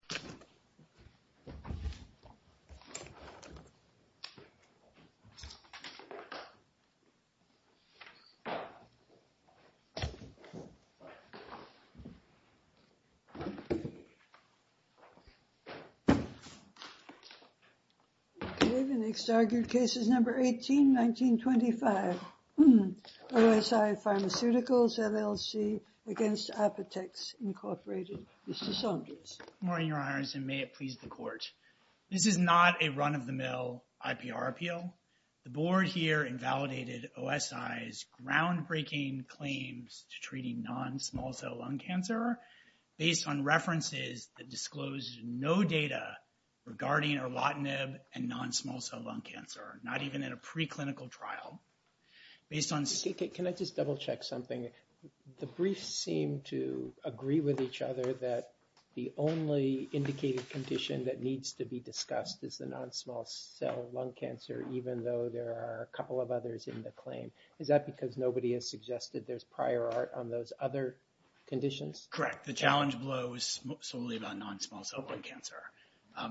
Morning, Your Honor. This is not a run-of-the-mill IPR appeal. The Board here invalidated OSI's groundbreaking claims to treating non-small-cell lung cancer based on references that disclose no data regarding erlotinib and non-small-cell lung cancer, not even in a preclinical trial. Can I just double-check something? The briefs seem to agree with each other that the only indicated condition that needs to be discussed is the non-small-cell lung cancer, even though there are a couple of others in the claim. Is that because nobody has suggested there's prior art on those other conditions? Correct. The challenge below is solely about non-small-cell lung cancer.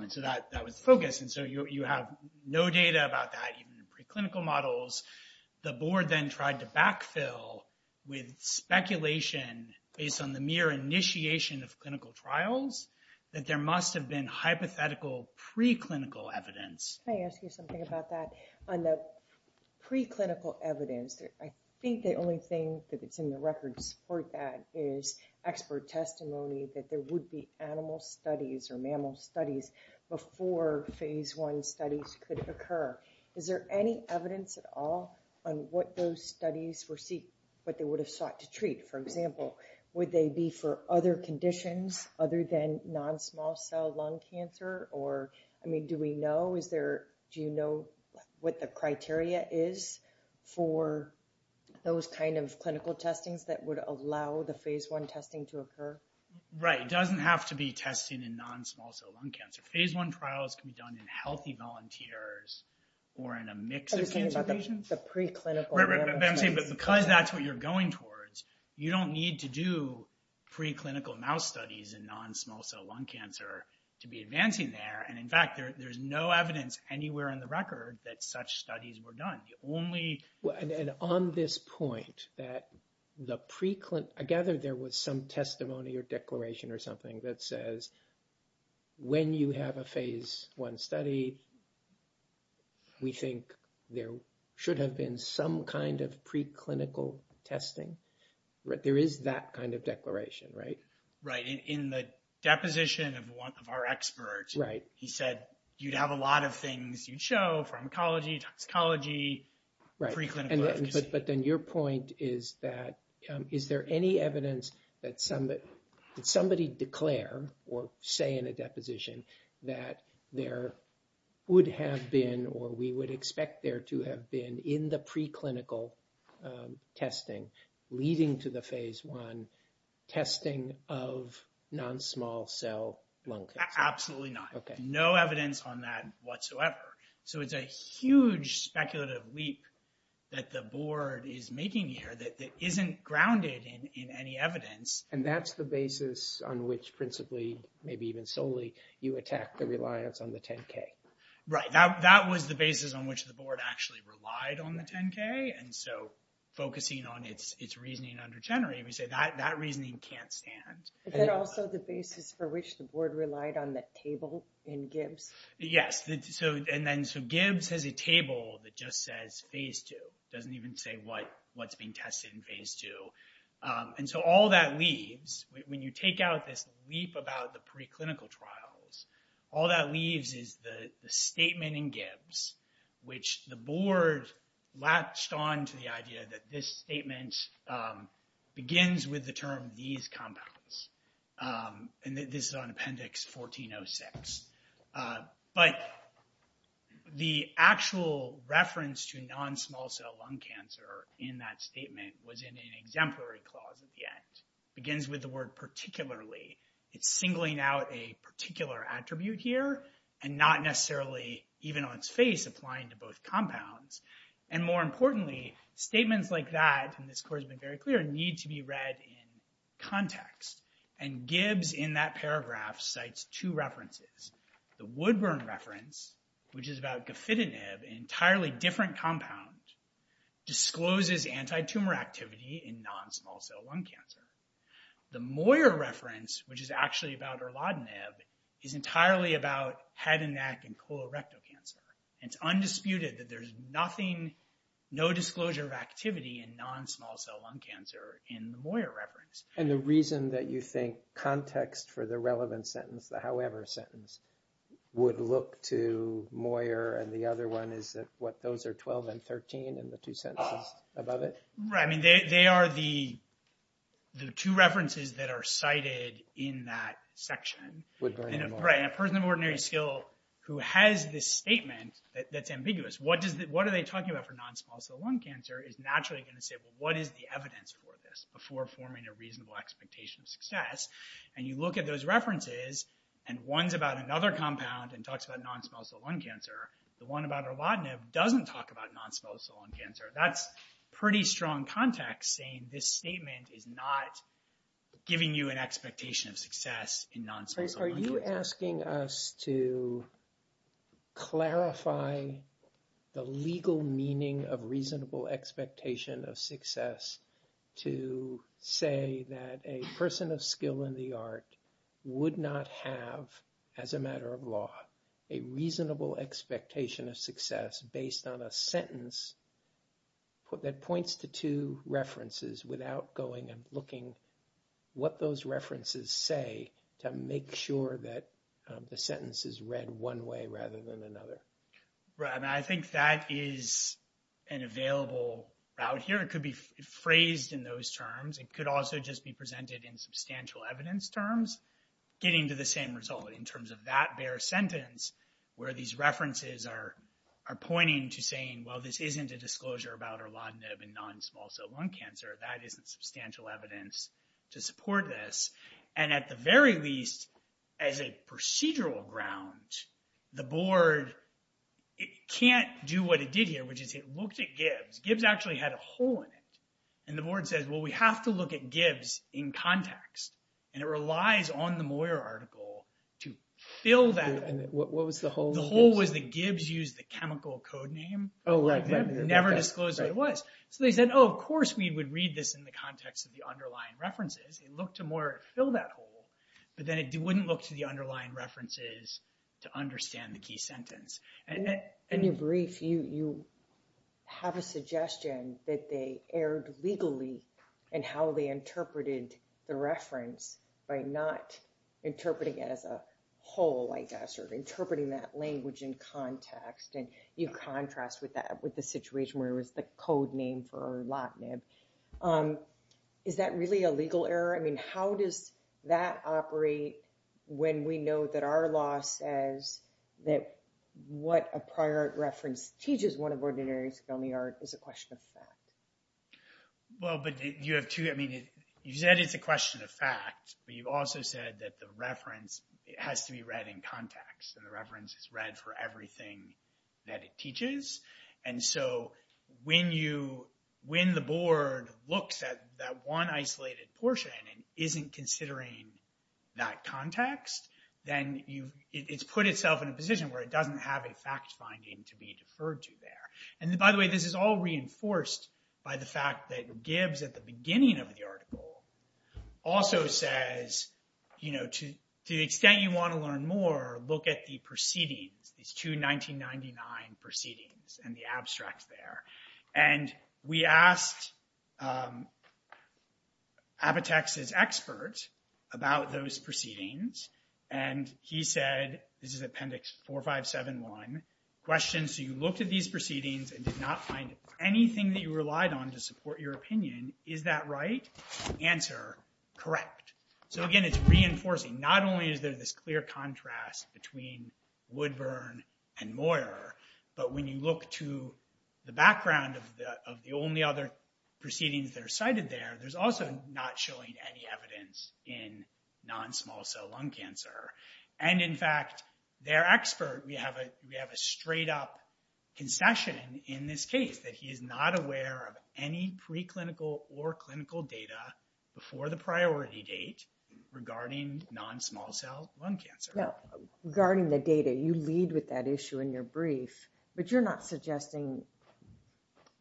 So that was the focus. And so you have no data about that, even in preclinical models. The Board then tried to backfill with speculation based on the mere initiation of clinical trials that there must have been hypothetical preclinical evidence. Can I ask you something about that? On the preclinical evidence, I think the only thing that's in the records for that is expert testimony that there would be animal studies or mammal studies before Phase I studies could occur. Is there any evidence at all on what those studies would have sought to treat? For example, would they be for other conditions other than non-small-cell lung cancer? I mean, do we know? Do you know what the criteria is for those kind of clinical testings that would allow the Phase I testing to occur? Right. It doesn't have to be testing in non-small-cell lung cancer. Phase I trials can be done in healthy volunteers or in a mix of cancer patients. Are you talking about the preclinical animal studies? Right, right. But I'm saying because that's what you're going towards, you don't need to do preclinical mouse studies in non-small-cell lung cancer to be advancing there. And in fact, there's no evidence anywhere in the record that such studies were done. The only... And on this point, that the preclin... I gather there was some testimony or declaration or something that says, when you have a Phase I study, we think there should have been some kind of preclinical testing. There is that kind of declaration, right? Right. In the deposition of one of our experts, he said, you'd have a lot of things you'd show pharmacology, toxicology, preclinical efficacy. But then your point is that, is there any evidence that somebody declare or say in a deposition that there would have been or we would expect there to have been in the preclinical testing leading to the Phase I testing of non-small-cell lung cancer? Absolutely not. Okay. No evidence on that whatsoever. So it's a huge speculative leap that the board is making here that isn't grounded in any evidence. And that's the basis on which principally, maybe even solely, you attack the reliance on the 10-K. Right. That was the basis on which the board actually relied on the 10-K. And so focusing on its reasoning under Chenery, we say that reasoning can't stand. Is that also the basis for which the board relied on the table in Gibbs? Yes. And then, so Gibbs has a table that just says Phase II, doesn't even say what's being tested in Phase II. And so all that leaves, when you take out this leap about the preclinical trials, all that leaves is the statement in Gibbs, which the board latched on to the idea that this statement begins with the term, these compounds, and this is on Appendix 1406. But the actual reference to non-small cell lung cancer in that statement was in an exemplary clause at the end. Begins with the word, particularly. It's singling out a particular attribute here, and not necessarily, even on its face, applying to both compounds. And more importantly, statements like that, and this course has been very clear, need to be read in context. And Gibbs, in that paragraph, cites two references. The Woodburn reference, which is about Gafitinib, an entirely different compound, discloses anti-tumor activity in non-small cell lung cancer. The Moyer reference, which is actually about Erlodinib, is entirely about head and neck and colorectal cancer. It's undisputed that there's nothing, no disclosure of activity in non-small cell lung cancer in the Moyer reference. And the reason that you think context for the relevant sentence, the however sentence, would look to Moyer and the other one, is that, what, those are 12 and 13 in the two sentences above it? Right. I mean, they are the two references that are cited in that section. Woodburn and Moyer. Right. And a person of ordinary skill who has this statement that's ambiguous, what are they talking about for non-small cell lung cancer, is naturally going to say, well, what is the reasonable expectation of success? And you look at those references, and one's about another compound and talks about non-small cell lung cancer. The one about Erlodinib doesn't talk about non-small cell lung cancer. That's pretty strong context saying this statement is not giving you an expectation of success in non-small cell lung cancer. Trace, are you asking us to clarify the legal meaning of reasonable expectation of success to say that a person of skill in the art would not have, as a matter of law, a reasonable expectation of success based on a sentence that points to two references without going and looking what those references say to make sure that the sentence is read one way rather than another? Right. I mean, I think that is an available route here. It could be phrased in those terms, it could also just be presented in substantial evidence terms getting to the same result in terms of that bare sentence where these references are pointing to saying, well, this isn't a disclosure about Erlodinib and non-small cell lung cancer. That isn't substantial evidence to support this. And at the very least, as a procedural ground, the board can't do what it did here, which is it looked at Gibbs. Gibbs actually had a hole in it, and the board says, well, we have to look at Gibbs in context. And it relies on the Moyer article to fill that. And what was the hole? The hole was that Gibbs used the chemical code name. Oh, right. They never disclosed what it was. So they said, oh, of course we would read this in the context of the underlying references. They looked to Moyer to fill that hole, but then it wouldn't look to the underlying references to understand the key sentence. In your brief, you have a suggestion that they erred legally in how they interpreted the reference by not interpreting it as a hole, I guess, or interpreting that language in context. And you contrast with that with the situation where it was the code name for Erlodinib. Is that really a legal error? How does that operate when we know that Erlodinib says that what a prior art reference teaches one of ordinary scaly art is a question of fact? Well, but you have two. You said it's a question of fact, but you've also said that the reference has to be read in context. And the reference is read for everything that it teaches. And so when the board looks at that one isolated portion and isn't considering that context, then it's put itself in a position where it doesn't have a fact finding to be deferred to there. And by the way, this is all reinforced by the fact that Gibbs, at the beginning of the article, also says, you know, to the extent you want to learn more, look at the proceedings, these two 1999 proceedings and the abstracts there. And we asked Apotex's expert about those proceedings. And he said, this is Appendix 4571, question, so you looked at these proceedings and did not find anything that you relied on to support your opinion. Is that right? Answer, correct. So again, it's reinforcing, not only is there this clear contrast between Woodburn and Moyer, but when you look to the background of the only other proceedings that are cited there, there's also not showing any evidence in non-small cell lung cancer. And in fact, their expert, we have a straight up concession in this case that he is not aware of any preclinical or clinical data before the priority date regarding non-small cell lung cancer. Now, regarding the data, you lead with that issue in your brief, but you're not suggesting,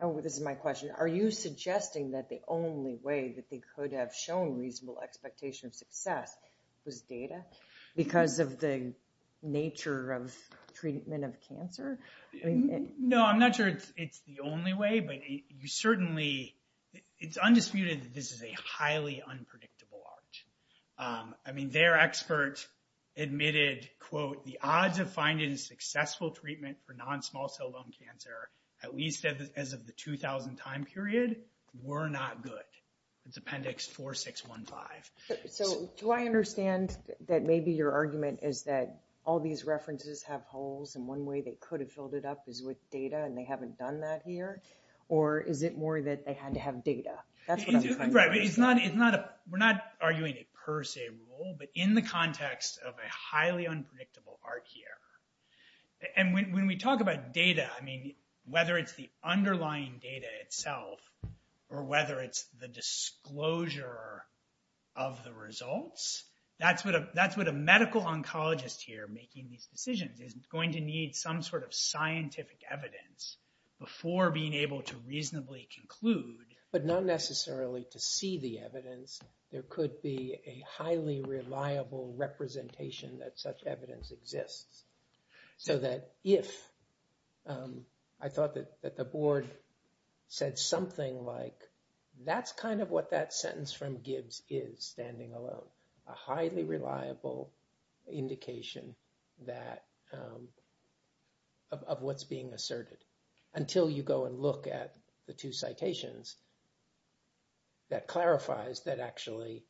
oh, this is my question, are you suggesting that the only way that they could have shown reasonable expectation of success was data because of the nature of treatment of cancer? No, I'm not sure it's the only way, but you certainly, it's undisputed that this is a highly unpredictable arch. I mean, their expert admitted, quote, the odds of finding successful treatment for non-small cell lung cancer, at least as of the 2000 time period, were not good. It's Appendix 4615. So do I understand that maybe your argument is that all these references have holes and one way they could have filled it up is with data and they haven't done that here? Or is it more that they had to have data? That's what I'm trying to understand. Right, but it's not, we're not arguing a per se rule, but in the context of a highly unpredictable arch here, and when we talk about data, I mean, whether it's the underlying data itself or whether it's the disclosure of the results, that's what a medical oncologist here making these decisions is going to need some sort of scientific evidence before being able to reasonably conclude. But not necessarily to see the evidence. There could be a highly reliable representation that such evidence exists. So that if, I thought that the board said something like, that's kind of what that sentence from Gibbs is standing alone, a highly reliable indication that, of what's being asserted until you go and look at the two citations that clarifies that actually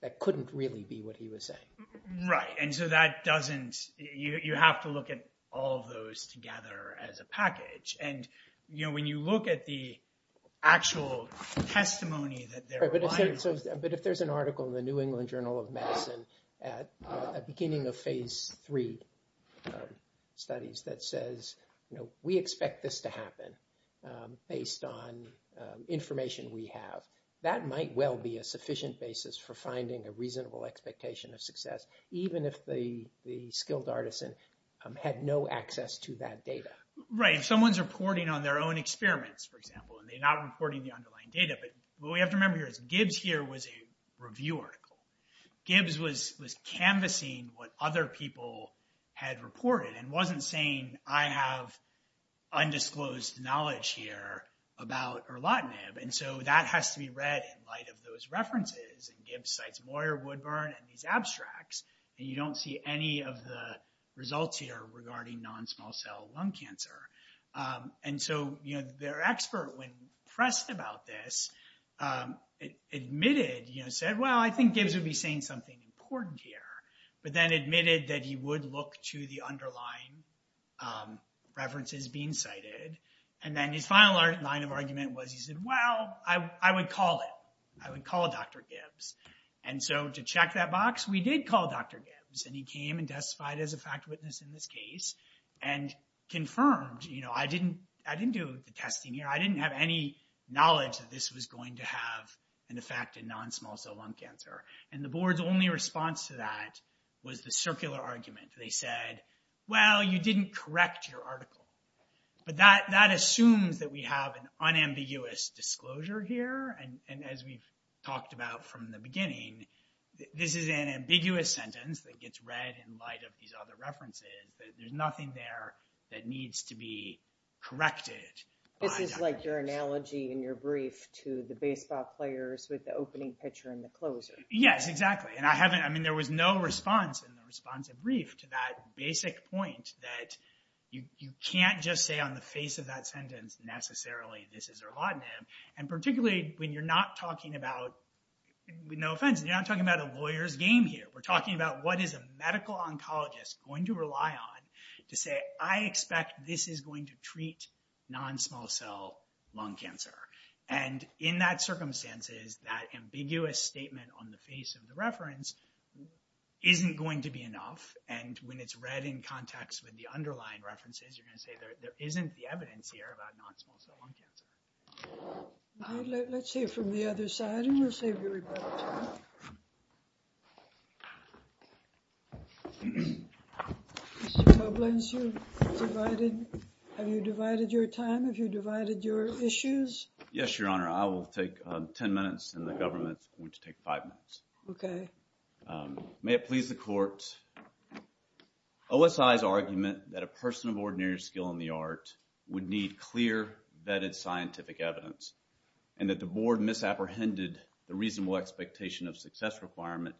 that couldn't really be what he was saying. Right. And so that doesn't, you have to look at all of those together as a package. And when you look at the actual testimony that they're applying. Right, but if there's an article in the New England Journal of Medicine at the beginning of phase three studies that says, we expect this to happen based on information we have, that might well be a sufficient basis for finding a reasonable expectation of success, even if the skilled artisan had no access to that data. Right. If someone's reporting on their own experiments, for example, and they're not reporting the underlying data. But what we have to remember here is Gibbs here was a review article. Gibbs was canvassing what other people had reported and wasn't saying, I have undisclosed knowledge here about erlotinib. And so that has to be read in light of those references. And Gibbs cites Moyer, Woodburn, and these abstracts, and you don't see any of the results here regarding non-small cell lung cancer. And so their expert, when pressed about this, admitted, said, well, I think Gibbs would be saying something important here, but then admitted that he would look to the underlying references being cited. And then his final line of argument was, he said, well, I would call it. I would call Dr. Gibbs. And so to check that box, we did call Dr. Gibbs, and he came and testified as a fact witness in this case, and confirmed, you know, I didn't do the testing here. I didn't have any knowledge that this was going to have an effect in non-small cell lung cancer. And the board's only response to that was the circular argument. They said, well, you didn't correct your article. But that assumes that we have an unambiguous disclosure here. And as we've talked about from the beginning, this is an ambiguous sentence that gets read in light of these other references, that there's nothing there that needs to be corrected by Dr. Gibbs. This is like your analogy in your brief to the baseball players with the opening pitcher and the closer. Yes, exactly. And I haven't, I mean, there was no response in the response of brief to that basic point that you can't just say on the face of that sentence, necessarily, this is erlotinib. And particularly when you're not talking about, with no offense, you're not talking about a lawyer's game here. We're talking about what is a medical oncologist going to rely on to say, I expect this is going to treat non-small cell lung cancer. And in that circumstances, that ambiguous statement on the face of the reference isn't going to be enough. And when it's read in context with the underlying references, you're going to say there isn't the evidence here about non-small cell lung cancer. Let's hear from the other side, and we'll save your time. Mr. Tublin, have you divided your time? Have you divided your issues? Yes, Your Honor. I will take 10 minutes, and the government is going to take five minutes. Okay. May it please the court, OSI's argument that a person of ordinary skill in the art would need clear, vetted scientific evidence, and that the board misapprehended the reasonable expectation of success requirement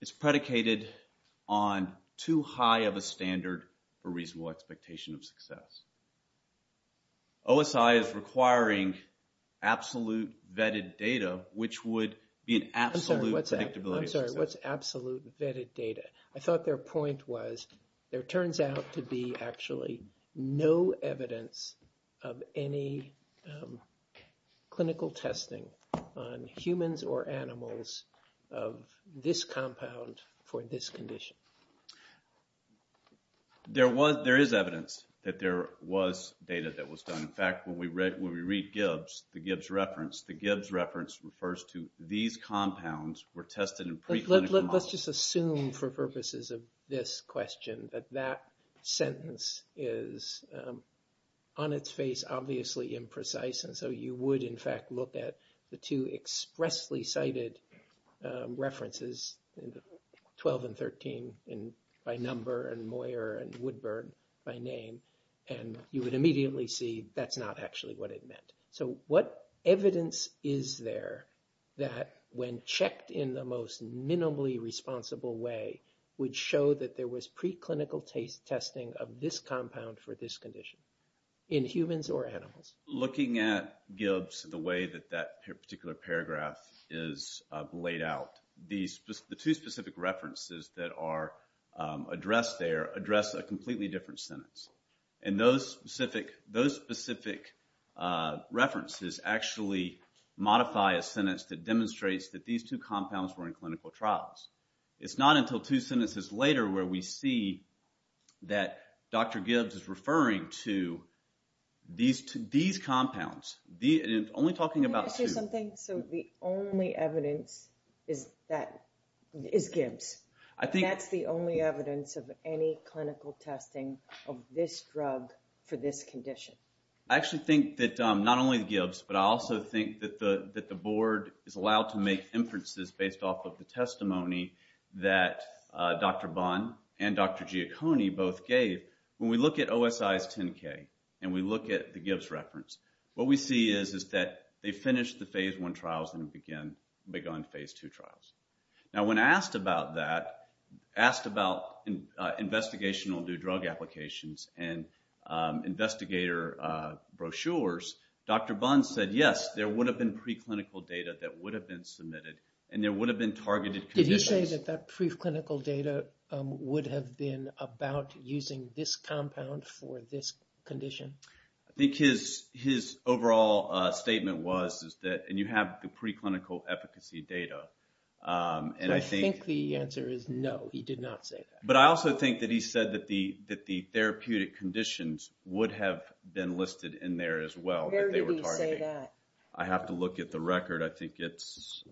is predicated on too high of a standard for reasonable expectation of success. OSI is requiring absolute vetted data, which would be an absolute predictability of success. I'm sorry, what's absolute vetted data? I thought their point was there turns out to be actually no evidence of any clinical testing on humans or animals of this compound for this condition. There is evidence that there was data that was done. In fact, when we read Gibbs, the Gibbs reference, the Gibbs reference refers to these compounds were tested in preclinical models. Let's just assume for purposes of this question that that sentence is on its face obviously imprecise, and so you would, in fact, look at the two expressly cited references, 12 and 13 by number, and Moyer and Woodburn by name, and you would immediately see that's not actually what it meant. So what evidence is there that when checked in the most minimally responsible way would show that there was preclinical testing of this compound for this condition in humans or animals? Looking at Gibbs the way that that particular paragraph is laid out, the two specific references that are addressed there address a completely different sentence. And those specific references actually modify a sentence that demonstrates that these two compounds were in clinical trials. It's not until two sentences later where we see that Dr. Gibbs is referring to these compounds, only talking about two. Can I ask you something? So the only evidence is Gibbs? That's the only evidence of any clinical testing of this drug for this condition? I actually think that not only Gibbs, but I also think that the board is allowed to make inferences based off of the testimony that Dr. Bond and Dr. Giacconi both gave. When we look at OSI's 10-K and we look at the Gibbs reference, what we see is that they finished the phase one trials and began phase two trials. Now when asked about that, asked about investigational new drug applications and investigator brochures, Dr. Bond said, yes, there would have been preclinical data that would have been submitted and there would have been targeted conditions. Did he say that that preclinical data would have been about using this compound for this condition? I think his overall statement was, and you have the preclinical efficacy data. I think the answer is no, he did not say that. But I also think that he said that the therapeutic conditions would have been listed in there as well. Where did he say that? I have to look at the record. I think it's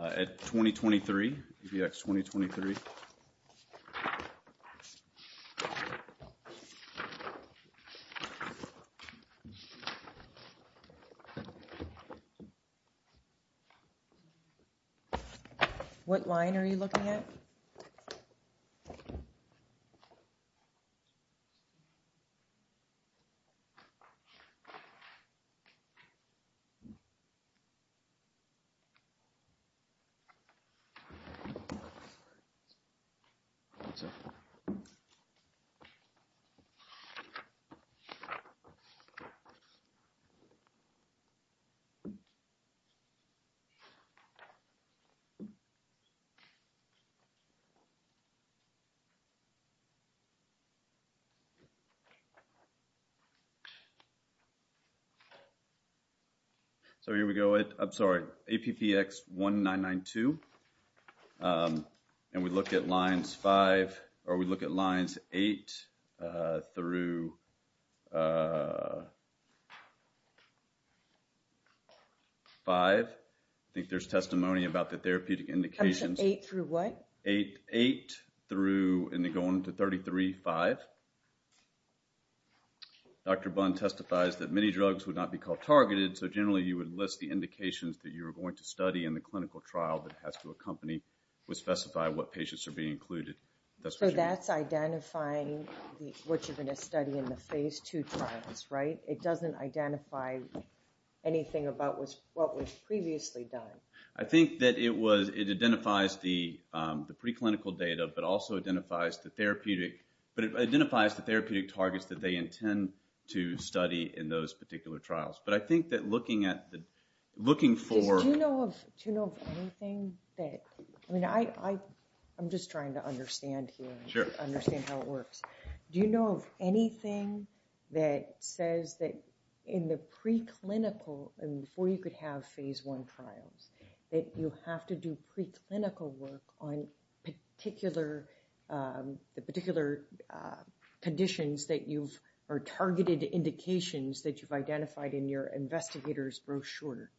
at 2023, ABX 2023. I agree. What line are you looking at? Okay. So here we go. I'm sorry. APPX1992. And we look at lines five, or we look at lines eight through five. I think there's testimony about the therapeutic indications. Eight through what? Eight through, going to 33-5. Dr. Bunn testifies that many drugs would not be called targeted, so generally you would list the indications that you were going to study in the clinical trial that has to accompany or specify what patients are being included. So that's identifying what you're going to study in the phase two trials, right? It doesn't identify anything about what was previously done. I think that it identifies the preclinical data, but also identifies the therapeutic. But it identifies the therapeutic targets that they intend to study in those particular trials. But I think that looking at the – looking for – Do you know of anything that – I mean, I'm just trying to understand here. Sure. Understand how it works. Do you know of anything that says that in the preclinical, and before you could have phase one trials, that you have to do preclinical work on particular conditions that you've – or targeted indications that you've identified in your investigator's brochure?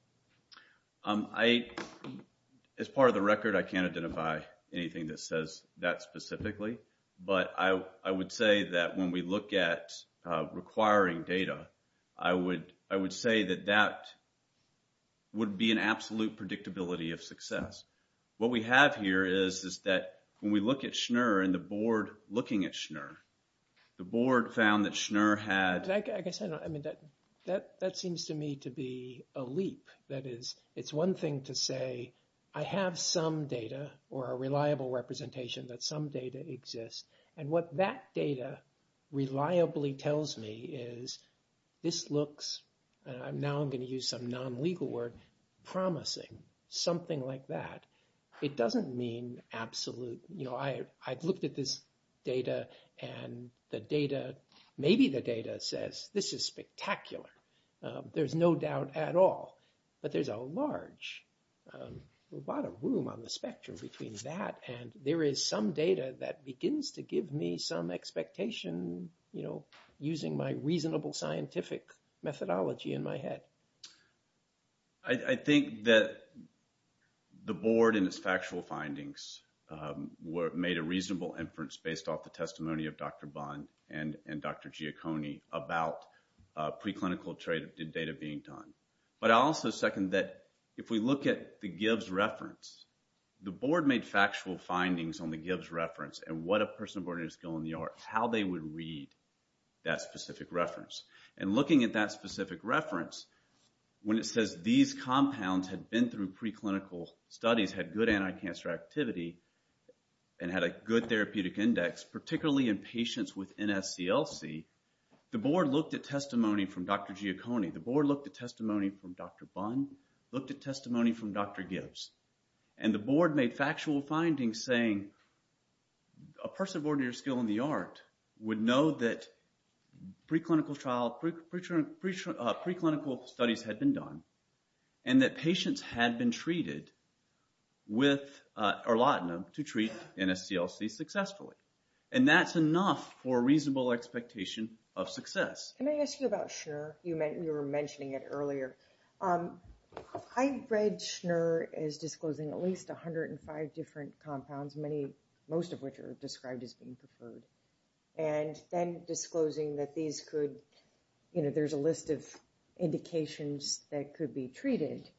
As part of the record, I can't identify anything that says that specifically. But I would say that when we look at requiring data, I would say that that would be an absolute predictability of success. What we have here is that when we look at Schnur and the board looking at Schnur, the board found that Schnur had – I guess I don't – I mean, that seems to me to be a leap. That is, it's one thing to say, I have some data or a reliable representation that some data exists. And what that data reliably tells me is this looks – and now I'm going to use some non-legal word – promising, something like that. It doesn't mean absolute – you know, I've looked at this data and the data – maybe the data says this is spectacular. There's no doubt at all. But there's a large amount of room on the spectrum between that and there is some data that begins to give me some expectation, you know, using my reasonable scientific methodology in my head. I think that the board and its factual findings made a reasonable inference based off the testimony of Dr. Bond and Dr. Giacconi about preclinical data being done. But I also second that if we look at the Gibbs reference, the board made factual findings on the Gibbs reference and what a person of ordinary skill in the arts, how they would read that specific reference. And looking at that specific reference, when it says these compounds had been through preclinical studies, had good anti-cancer activity, and had a good therapeutic index, particularly in patients with NSCLC, the board looked at testimony from Dr. Giacconi. The board looked at testimony from Dr. Bond, looked at testimony from Dr. Gibbs. And the board made factual findings saying a person of ordinary skill in the art would know that preclinical studies had been done and that patients had been treated with erlotinib to treat NSCLC successfully. And that's enough for a reasonable expectation of success. Can I ask you about Schner? You were mentioning it earlier. I read Schner as disclosing at least 105 different compounds, most of which are described as being preferred, and then disclosing that there's a list of indications that could be treated.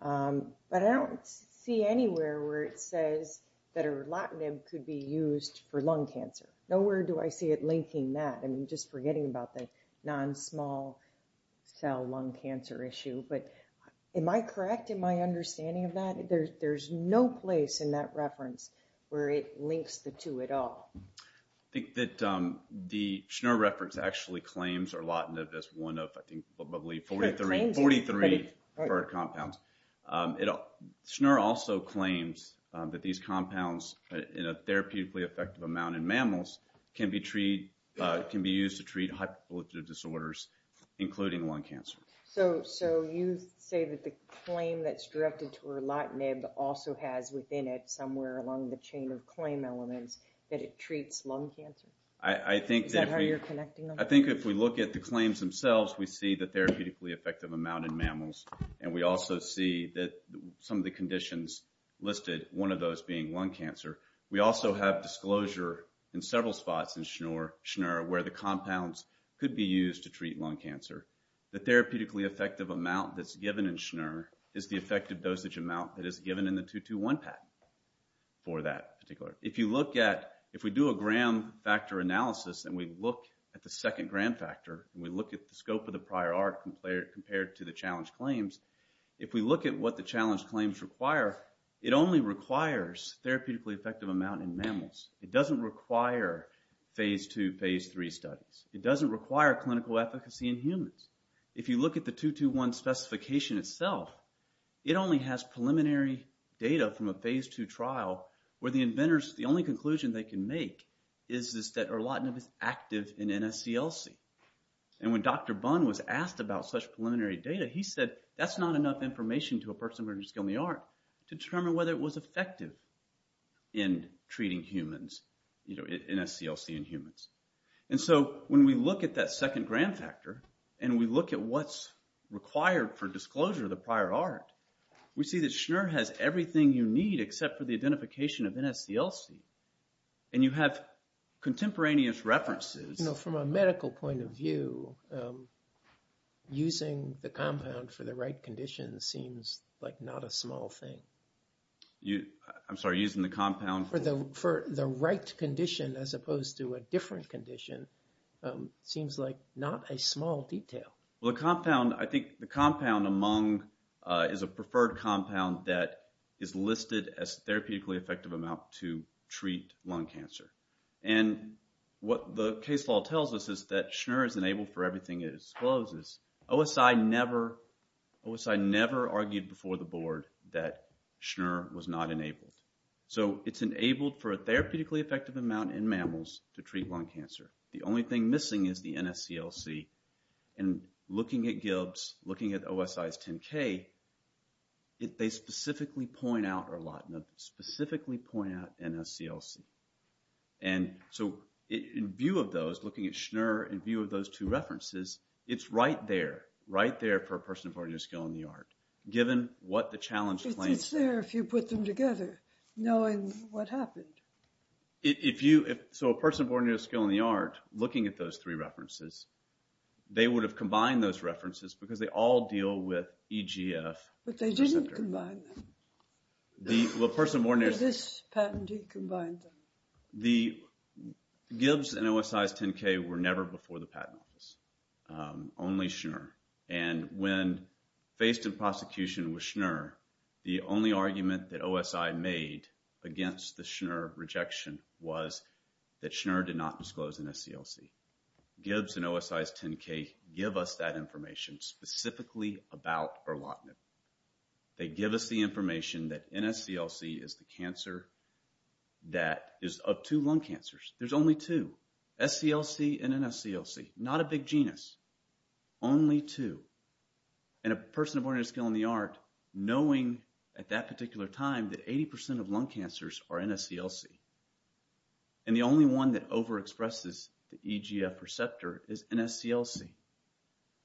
But I don't see anywhere where it says that erlotinib could be used for lung cancer. Nowhere do I see it linking that. I'm just forgetting about the non-small cell lung cancer issue. But am I correct in my understanding of that? There's no place in that reference where it links the two at all. I think that the Schner reference actually claims erlotinib as one of, I think, probably 43 compounds. Schner also claims that these compounds in a therapeutically effective amount in mammals can be used to treat hyperpolyptic disorders, including lung cancer. So you say that the claim that's directed to erlotinib also has within it, somewhere along the chain of claim elements, that it treats lung cancer? Is that how you're connecting them? I think if we look at the claims themselves, we see the therapeutically effective amount in mammals, and we also see that some of the conditions listed, one of those being lung cancer. We also have disclosure in several spots in Schner where the compounds could be used to treat lung cancer. The therapeutically effective amount that's given in Schner is the effective dosage amount that is given in the 221 patent for that particular. If you look at, if we do a gram factor analysis, and we look at the second gram factor, and we look at the scope of the prior art compared to the challenge claims, if we look at what the challenge claims require, it only requires therapeutically effective amount in mammals. It doesn't require Phase II, Phase III studies. It doesn't require clinical efficacy in humans. If you look at the 221 specification itself, it only has preliminary data from a Phase II trial where the inventors, the only conclusion they can make, is that erlotinib is active in NSCLC. And when Dr. Bunn was asked about such preliminary data, he said, that's not enough information to a person with a skill in the art to determine whether it was effective in treating humans, NSCLC in humans. And so when we look at that second gram factor, and we look at what's required for disclosure of the prior art, we see that Schner has everything you need except for the identification of NSCLC. And you have contemporaneous references. You know, from a medical point of view, using the compound for the right condition seems like not a small thing. I'm sorry, using the compound? For the right condition as opposed to a different condition seems like not a small detail. Well, the compound, I think the compound among is a preferred compound that is listed as therapeutically effective amount to treat lung cancer. And what the case law tells us is that Schner is enabled for everything it discloses. OSI never, OSI never argued before the board that Schner was not enabled. So it's enabled for a therapeutically effective amount in mammals to treat lung cancer. The only thing missing is the NSCLC. And looking at Gibbs, looking at OSI's 10K, they specifically point out erlotinib, specifically point out NSCLC. And so in view of those, looking at Schner, in view of those two references, it's right there, right there for a person born with a skill in the art, given what the challenge claims. It's there if you put them together, knowing what happened. If you, so a person born with a skill in the art, looking at those three references, they would have combined those references because they all deal with EGF receptor. But they didn't combine them. The person born... Is this patented combined? The Gibbs and OSI's 10K were never before the patent office, only Schner. And when faced in prosecution with Schner, the only argument that OSI made against the Schner rejection was that Schner did not disclose NSCLC. Gibbs and OSI's 10K give us that information specifically about erlotinib. They give us the information that NSCLC is the cancer that is of two lung cancers. There's only two. SCLC and NSCLC. Not a big genus. Only two. And a person born with a skill in the art, knowing at that particular time that 80% of lung cancers are NSCLC. And the only one that overexpresses the EGF receptor is NSCLC.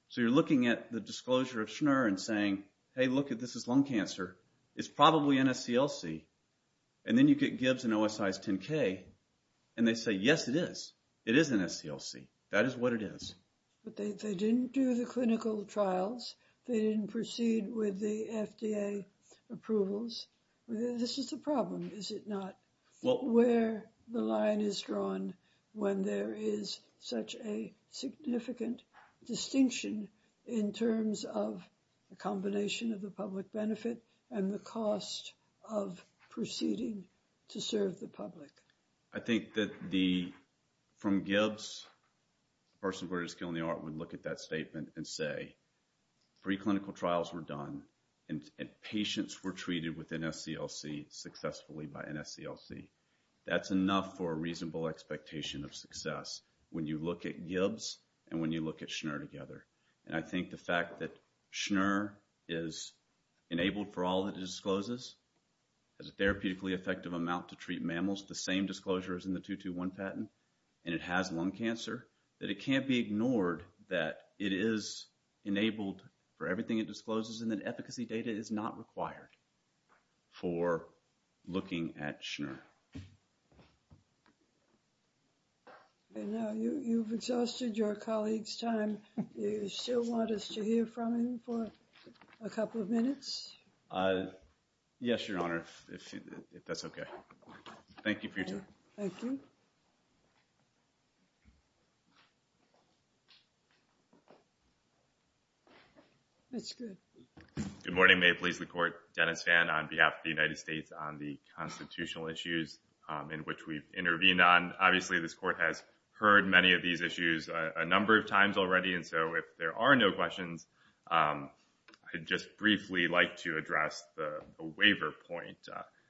So you're looking at the disclosure of Schner and saying, hey, look, this is lung cancer. It's probably NSCLC. And then you get Gibbs and OSI's 10K, and they say, yes, it is. It is NSCLC. That is what it is. But they didn't do the clinical trials. They didn't proceed with the FDA approvals. This is the problem, is it not? Where the line is drawn when there is such a significant distinction in terms of the combination of the public benefit and the cost of proceeding to serve the public. I think that from Gibbs, a person born with a skill in the art would look at that statement and say, three clinical trials were done, and patients were treated with NSCLC successfully by NSCLC. That's enough for a reasonable expectation of success when you look at Gibbs and when you look at Schner together. And I think the fact that Schner is enabled for all it discloses, has a therapeutically effective amount to treat mammals, the same disclosure as in the 221 patent, and it has lung cancer, that it can't be ignored that it is enabled for everything it discloses and that efficacy data is not required for looking at Schner. And now you've exhausted your colleague's time. Do you still want us to hear from him for a couple of minutes? Yes, Your Honor, if that's okay. Thank you for your time. Thank you. That's good. Good morning. May it please the Court. Dennis Vann on behalf of the United States on the constitutional issues in which we've intervened on. Obviously, this Court has heard many of these issues a number of times already, and so if there are no questions, I'd just briefly like to address the waiver point.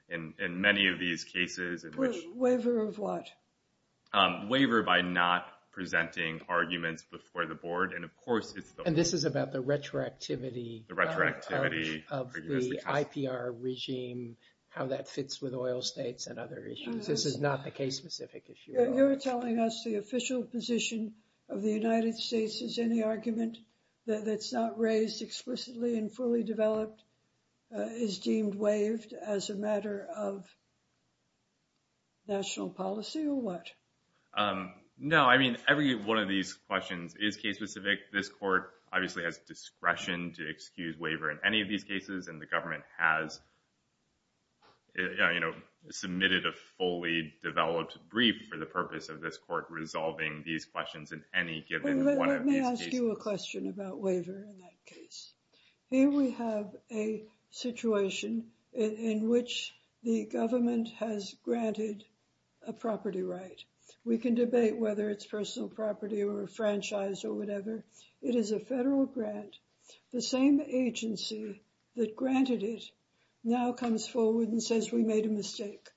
In many of these cases in which... Waiver of what? Waiver by not presenting arguments before the Board, and of course it's the... And this is about the retroactivity... How that fits with oil states and other issues. This is not the case-specific issue. You're telling us the official position of the United States is any argument that's not raised explicitly and fully developed is deemed waived as a matter of national policy or what? No, I mean, every one of these questions is case-specific. This Court obviously has discretion to excuse waiver in any of these cases, and the government has submitted a fully developed brief for the purpose of this Court resolving these questions in any given one of these cases. Let me ask you a question about waiver in that case. Here we have a situation in which the government has granted a property right. We can debate whether it's personal property or a franchise or whatever. It is a federal grant. The same agency that granted it now comes forward and says we made a mistake.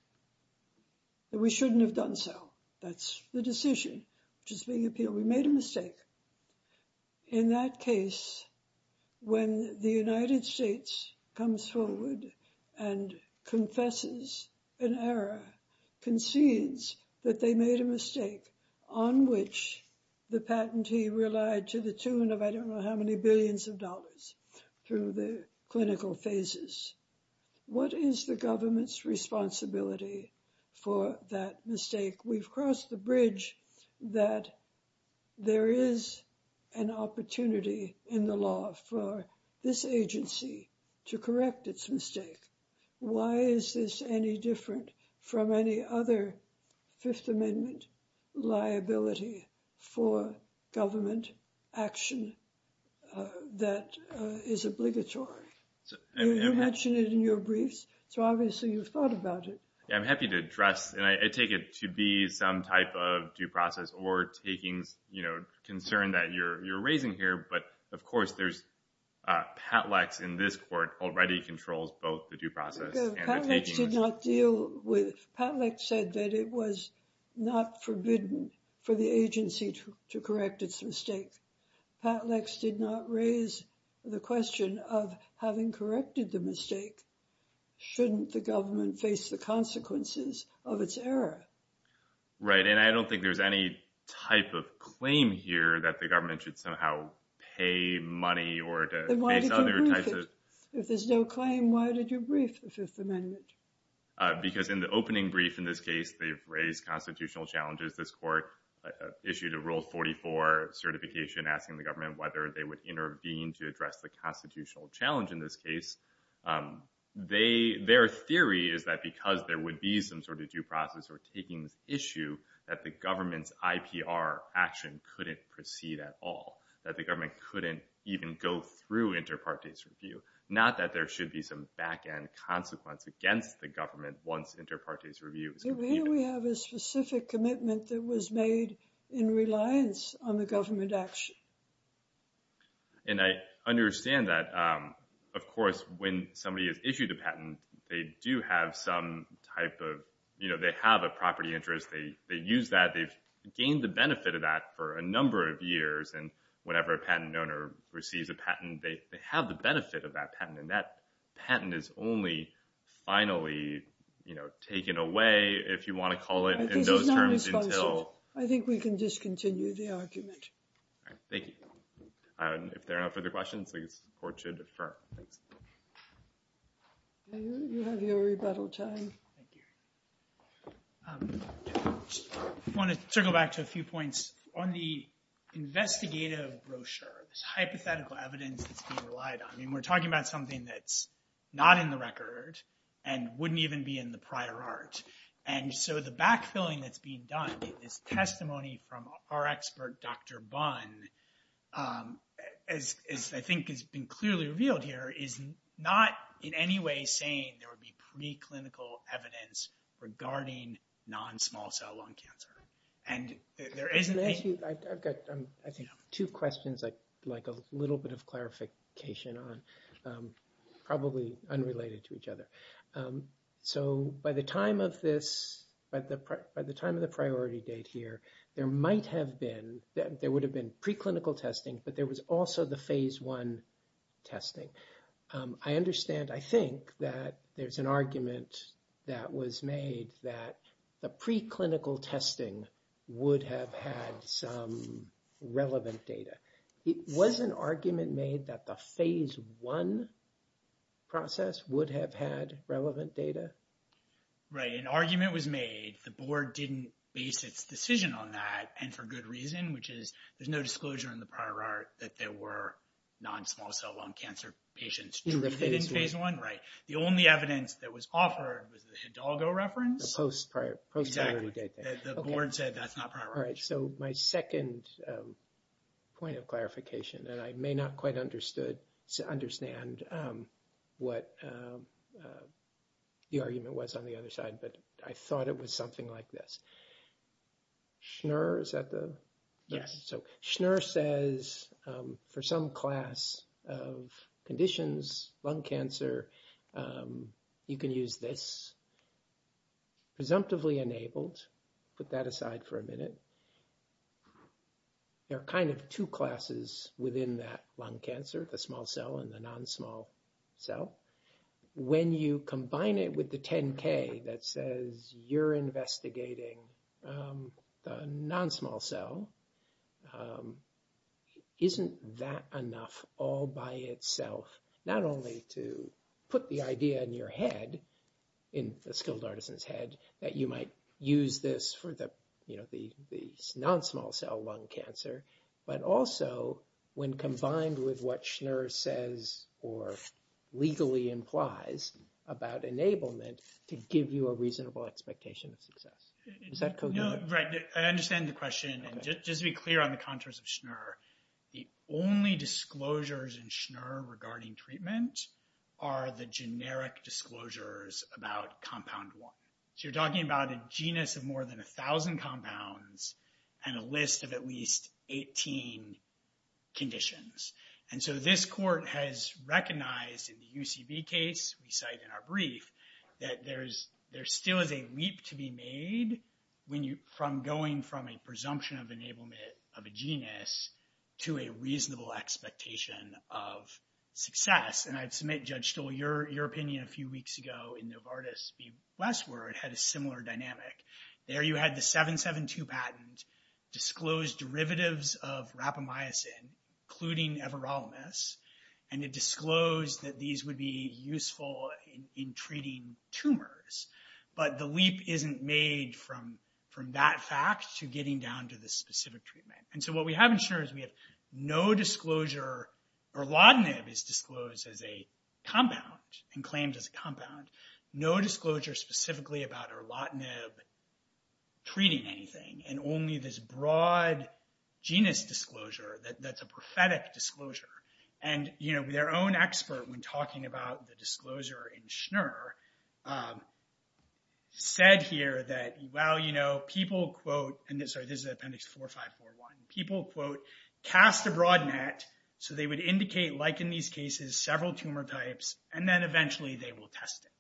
We shouldn't have done so. That's the decision which is being appealed. We made a mistake. In that case, when the United States comes forward and confesses an error, concedes that they made a mistake on which the patentee relied to the tune of, I don't know how many billions of dollars through the clinical phases. What is the government's responsibility for that mistake? We've crossed the bridge that there is an opportunity in the law for this agency to correct its mistake. Why is this any different from any other Fifth Amendment liability for government action that is obligatory? You mentioned it in your briefs, so obviously you've thought about it. I'm happy to address, and I take it to be some type of due process or takings concern that you're raising here, but of course there's Patlex in this Court already controls both the due process. Patlex did not deal with, Patlex said that it was not forbidden for the agency to correct its mistake. Patlex did not raise the question of having corrected the mistake, shouldn't the government face the consequences of its error? Right, and I don't think there's any type of claim here that the government should somehow pay money or to face other types of- Then why did you brief it? If there's no claim, why did you brief the Fifth Amendment? Because in the opening brief in this case, they've raised constitutional challenges. This Court issued a Rule 44 certification asking the government whether they would intervene to address the constitutional challenge in this case. Their theory is that because there would be some sort of due process or takings issue that the government's IPR action couldn't proceed at all, that the government couldn't even go through inter partes review, not that there should be some back end consequence against the government once inter partes review is completed. So here we have a specific commitment that was made in reliance on the government action. And I understand that, of course, when somebody has issued a patent, they do have some type of, you know, they have a property interest, they use that, they've gained the benefit of that for a number of years, and whenever a patent owner receives a patent, they have the benefit of that patent. And that patent is only finally, you know, taken away, if you want to call it in those terms. I think we can discontinue the argument. Thank you. If there are no further questions, the Court should defer. You have your rebuttal time. I want to circle back to a few points. On the investigative brochure, this hypothetical evidence that's being relied on, I mean, we're talking about something that's not in the record and wouldn't even be in the prior art. And so the backfilling that's being done in this testimony from our expert, Dr. Bunn, as I think has been clearly revealed here, is not in any way saying there would be preclinical evidence regarding non-small cell lung cancer. I've got, I think, two questions I'd like a little bit of clarification on, probably unrelated to each other. So by the time of this, by the time of the priority date here, there might have been, there would have been preclinical testing, but there was also the phase one testing. I understand, I think, that there's an argument that was made that the preclinical testing would have had some relevant data. Was an argument made that the phase one process would have had relevant data? Right. An argument was made. The board didn't base its decision on that, and for good reason, which is there's no disclosure in the prior art that there were non-small cell lung cancer patients treated in phase one. The only evidence that was offered was the Hidalgo reference. The post-priority date. Okay. The board said that's not prior. All right. So my second point of clarification, and I may not quite understand what the argument was on the other side, but I thought it was something like this. Schnur, is that the? Yes. So Schnur says for some class of conditions, lung cancer, you can use this. Presumptively enabled. Put that aside for a minute. There are kind of two classes within that lung cancer, the small cell and the non-small cell. When you combine it with the 10K that says you're investigating the non-small cell, isn't that enough all by itself, not only to put the idea in your head, in a skilled artisan's head, that you might use this for the non-small cell lung cancer, but also when combined with what Schnur says or legally implies about enablement to give you a reasonable expectation of success? Is that coherent? Right. I understand the question. And just to be clear on the contours of Schnur, the only disclosures in Schnur regarding treatment are the generic disclosures about compound one. So you're talking about a genus of more than 1,000 compounds and a list of at least 18 conditions. And so this court has recognized in the UCB case we cite in our brief, that there still is a leap to be made from going from a presumption of enablement of a genus to a reasonable expectation of success. And I'd submit, Judge Stoll, your opinion a few weeks ago in Novartis v. Westward had a similar dynamic. There you had the 772 patent disclose derivatives of rapamycin, including Everolimus, and it disclosed that these would be useful in treating tumors. But the leap isn't made from that fact to getting down to the specific treatment. And so what we have in Schnur is we have no disclosure. Erlotinib is disclosed as a compound and claimed as a compound. No disclosure specifically about Erlotinib treating anything, and only this broad genus disclosure that's a prophetic disclosure. And, you know, their own expert when talking about the disclosure in Schnur said here that, well, you know, people, quote, and this is appendix 4541, people, quote, cast a broad net so they would indicate, like in these cases, several tumor types, and then eventually they will test it.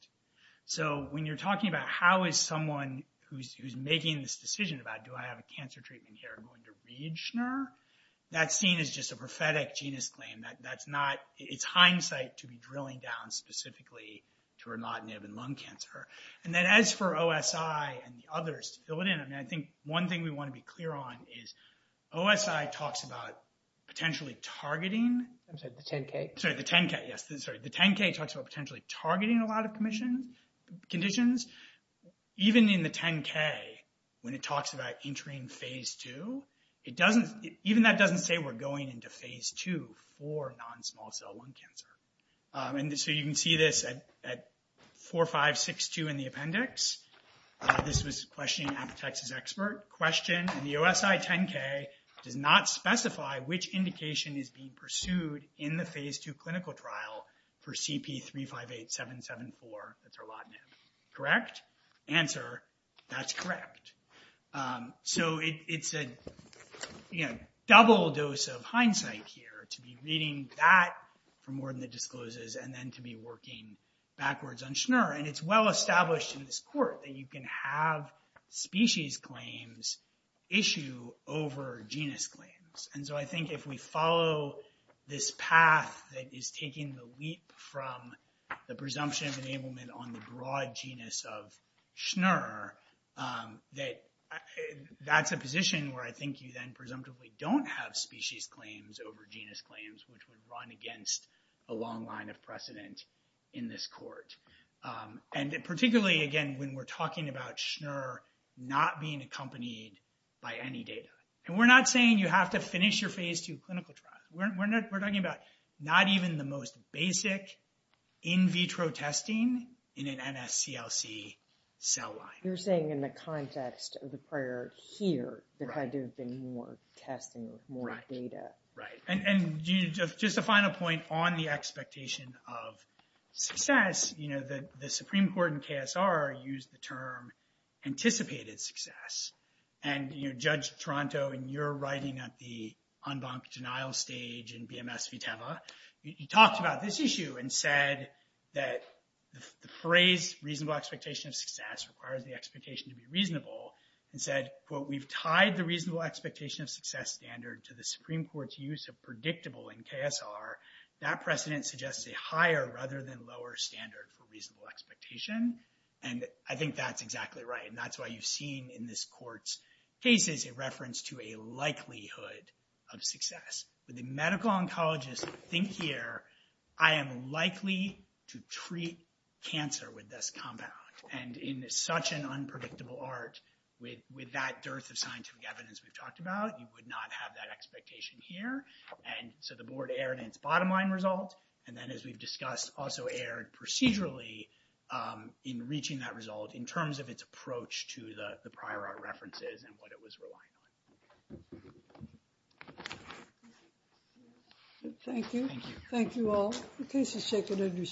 So when you're talking about how is someone who's making this decision about, do I have a cancer treatment here going to read Schnur, that's seen as just a prophetic genus claim. That's not, it's hindsight to be drilling down specifically to Erlotinib and lung cancer. And then as for OSI and the others to fill it in, I mean, I think one thing we want to be clear on is OSI talks about potentially targeting. I'm sorry, the 10-K. Sorry, the 10-K, yes. Sorry, the 10-K talks about potentially targeting a lot of conditions. Even in the 10-K when it talks about entering phase two, it doesn't, even that doesn't say we're going into phase two for non-small cell lung cancer. And so you can see this at 4562 in the appendix. This was a question asked by a Texas expert. Question, the OSI 10-K does not specify which indication is being pursued in the phase two clinical trial for CP358774, that's Erlotinib. Correct? Answer, that's correct. So it's a double dose of hindsight here to be reading that for more than the discloses and then to be working backwards on Schnur. And it's well established in this court that you can have species claims issue over genus claims. And so I think if we follow this path that is taking the leap from the presumption of enablement on the broad genus of Schnur, that's a position where I think you then presumptively don't have species claims over genus claims, which would run against a long line of precedent in this court. And particularly, again, when we're talking about Schnur not being accompanied by any data. And we're not saying you have to finish your phase two clinical trial. We're talking about not even the most basic in vitro testing in an NSCLC cell line. You're saying in the context of the prior here that there had to have been more testing with more data. Right. And just a final point on the expectation of success. The Supreme Court in KSR used the term anticipated success. And Judge Toronto, in your writing at the en banc denial stage in BMS Viteva, you talked about this issue and said that the phrase reasonable expectation of success requires the expectation to be reasonable. And said, quote, we've tied the reasonable expectation of success standard to the Supreme Court's use of predictable in KSR. That precedent suggests a higher rather than lower standard for reasonable expectation. And I think that's exactly right. And that's why you've seen in this court's cases a reference to a likelihood of success. When the medical oncologists think here, I am likely to treat cancer with this compound. And in such an unpredictable art with that dearth of scientific evidence we've talked about, you would not have that expectation here. And so the board erred in its bottom line result. And then, as we've discussed, also erred procedurally in reaching that result in terms of its approach to the prior art references and what it was relying on. Thank you. Thank you all. The case is taken under submission.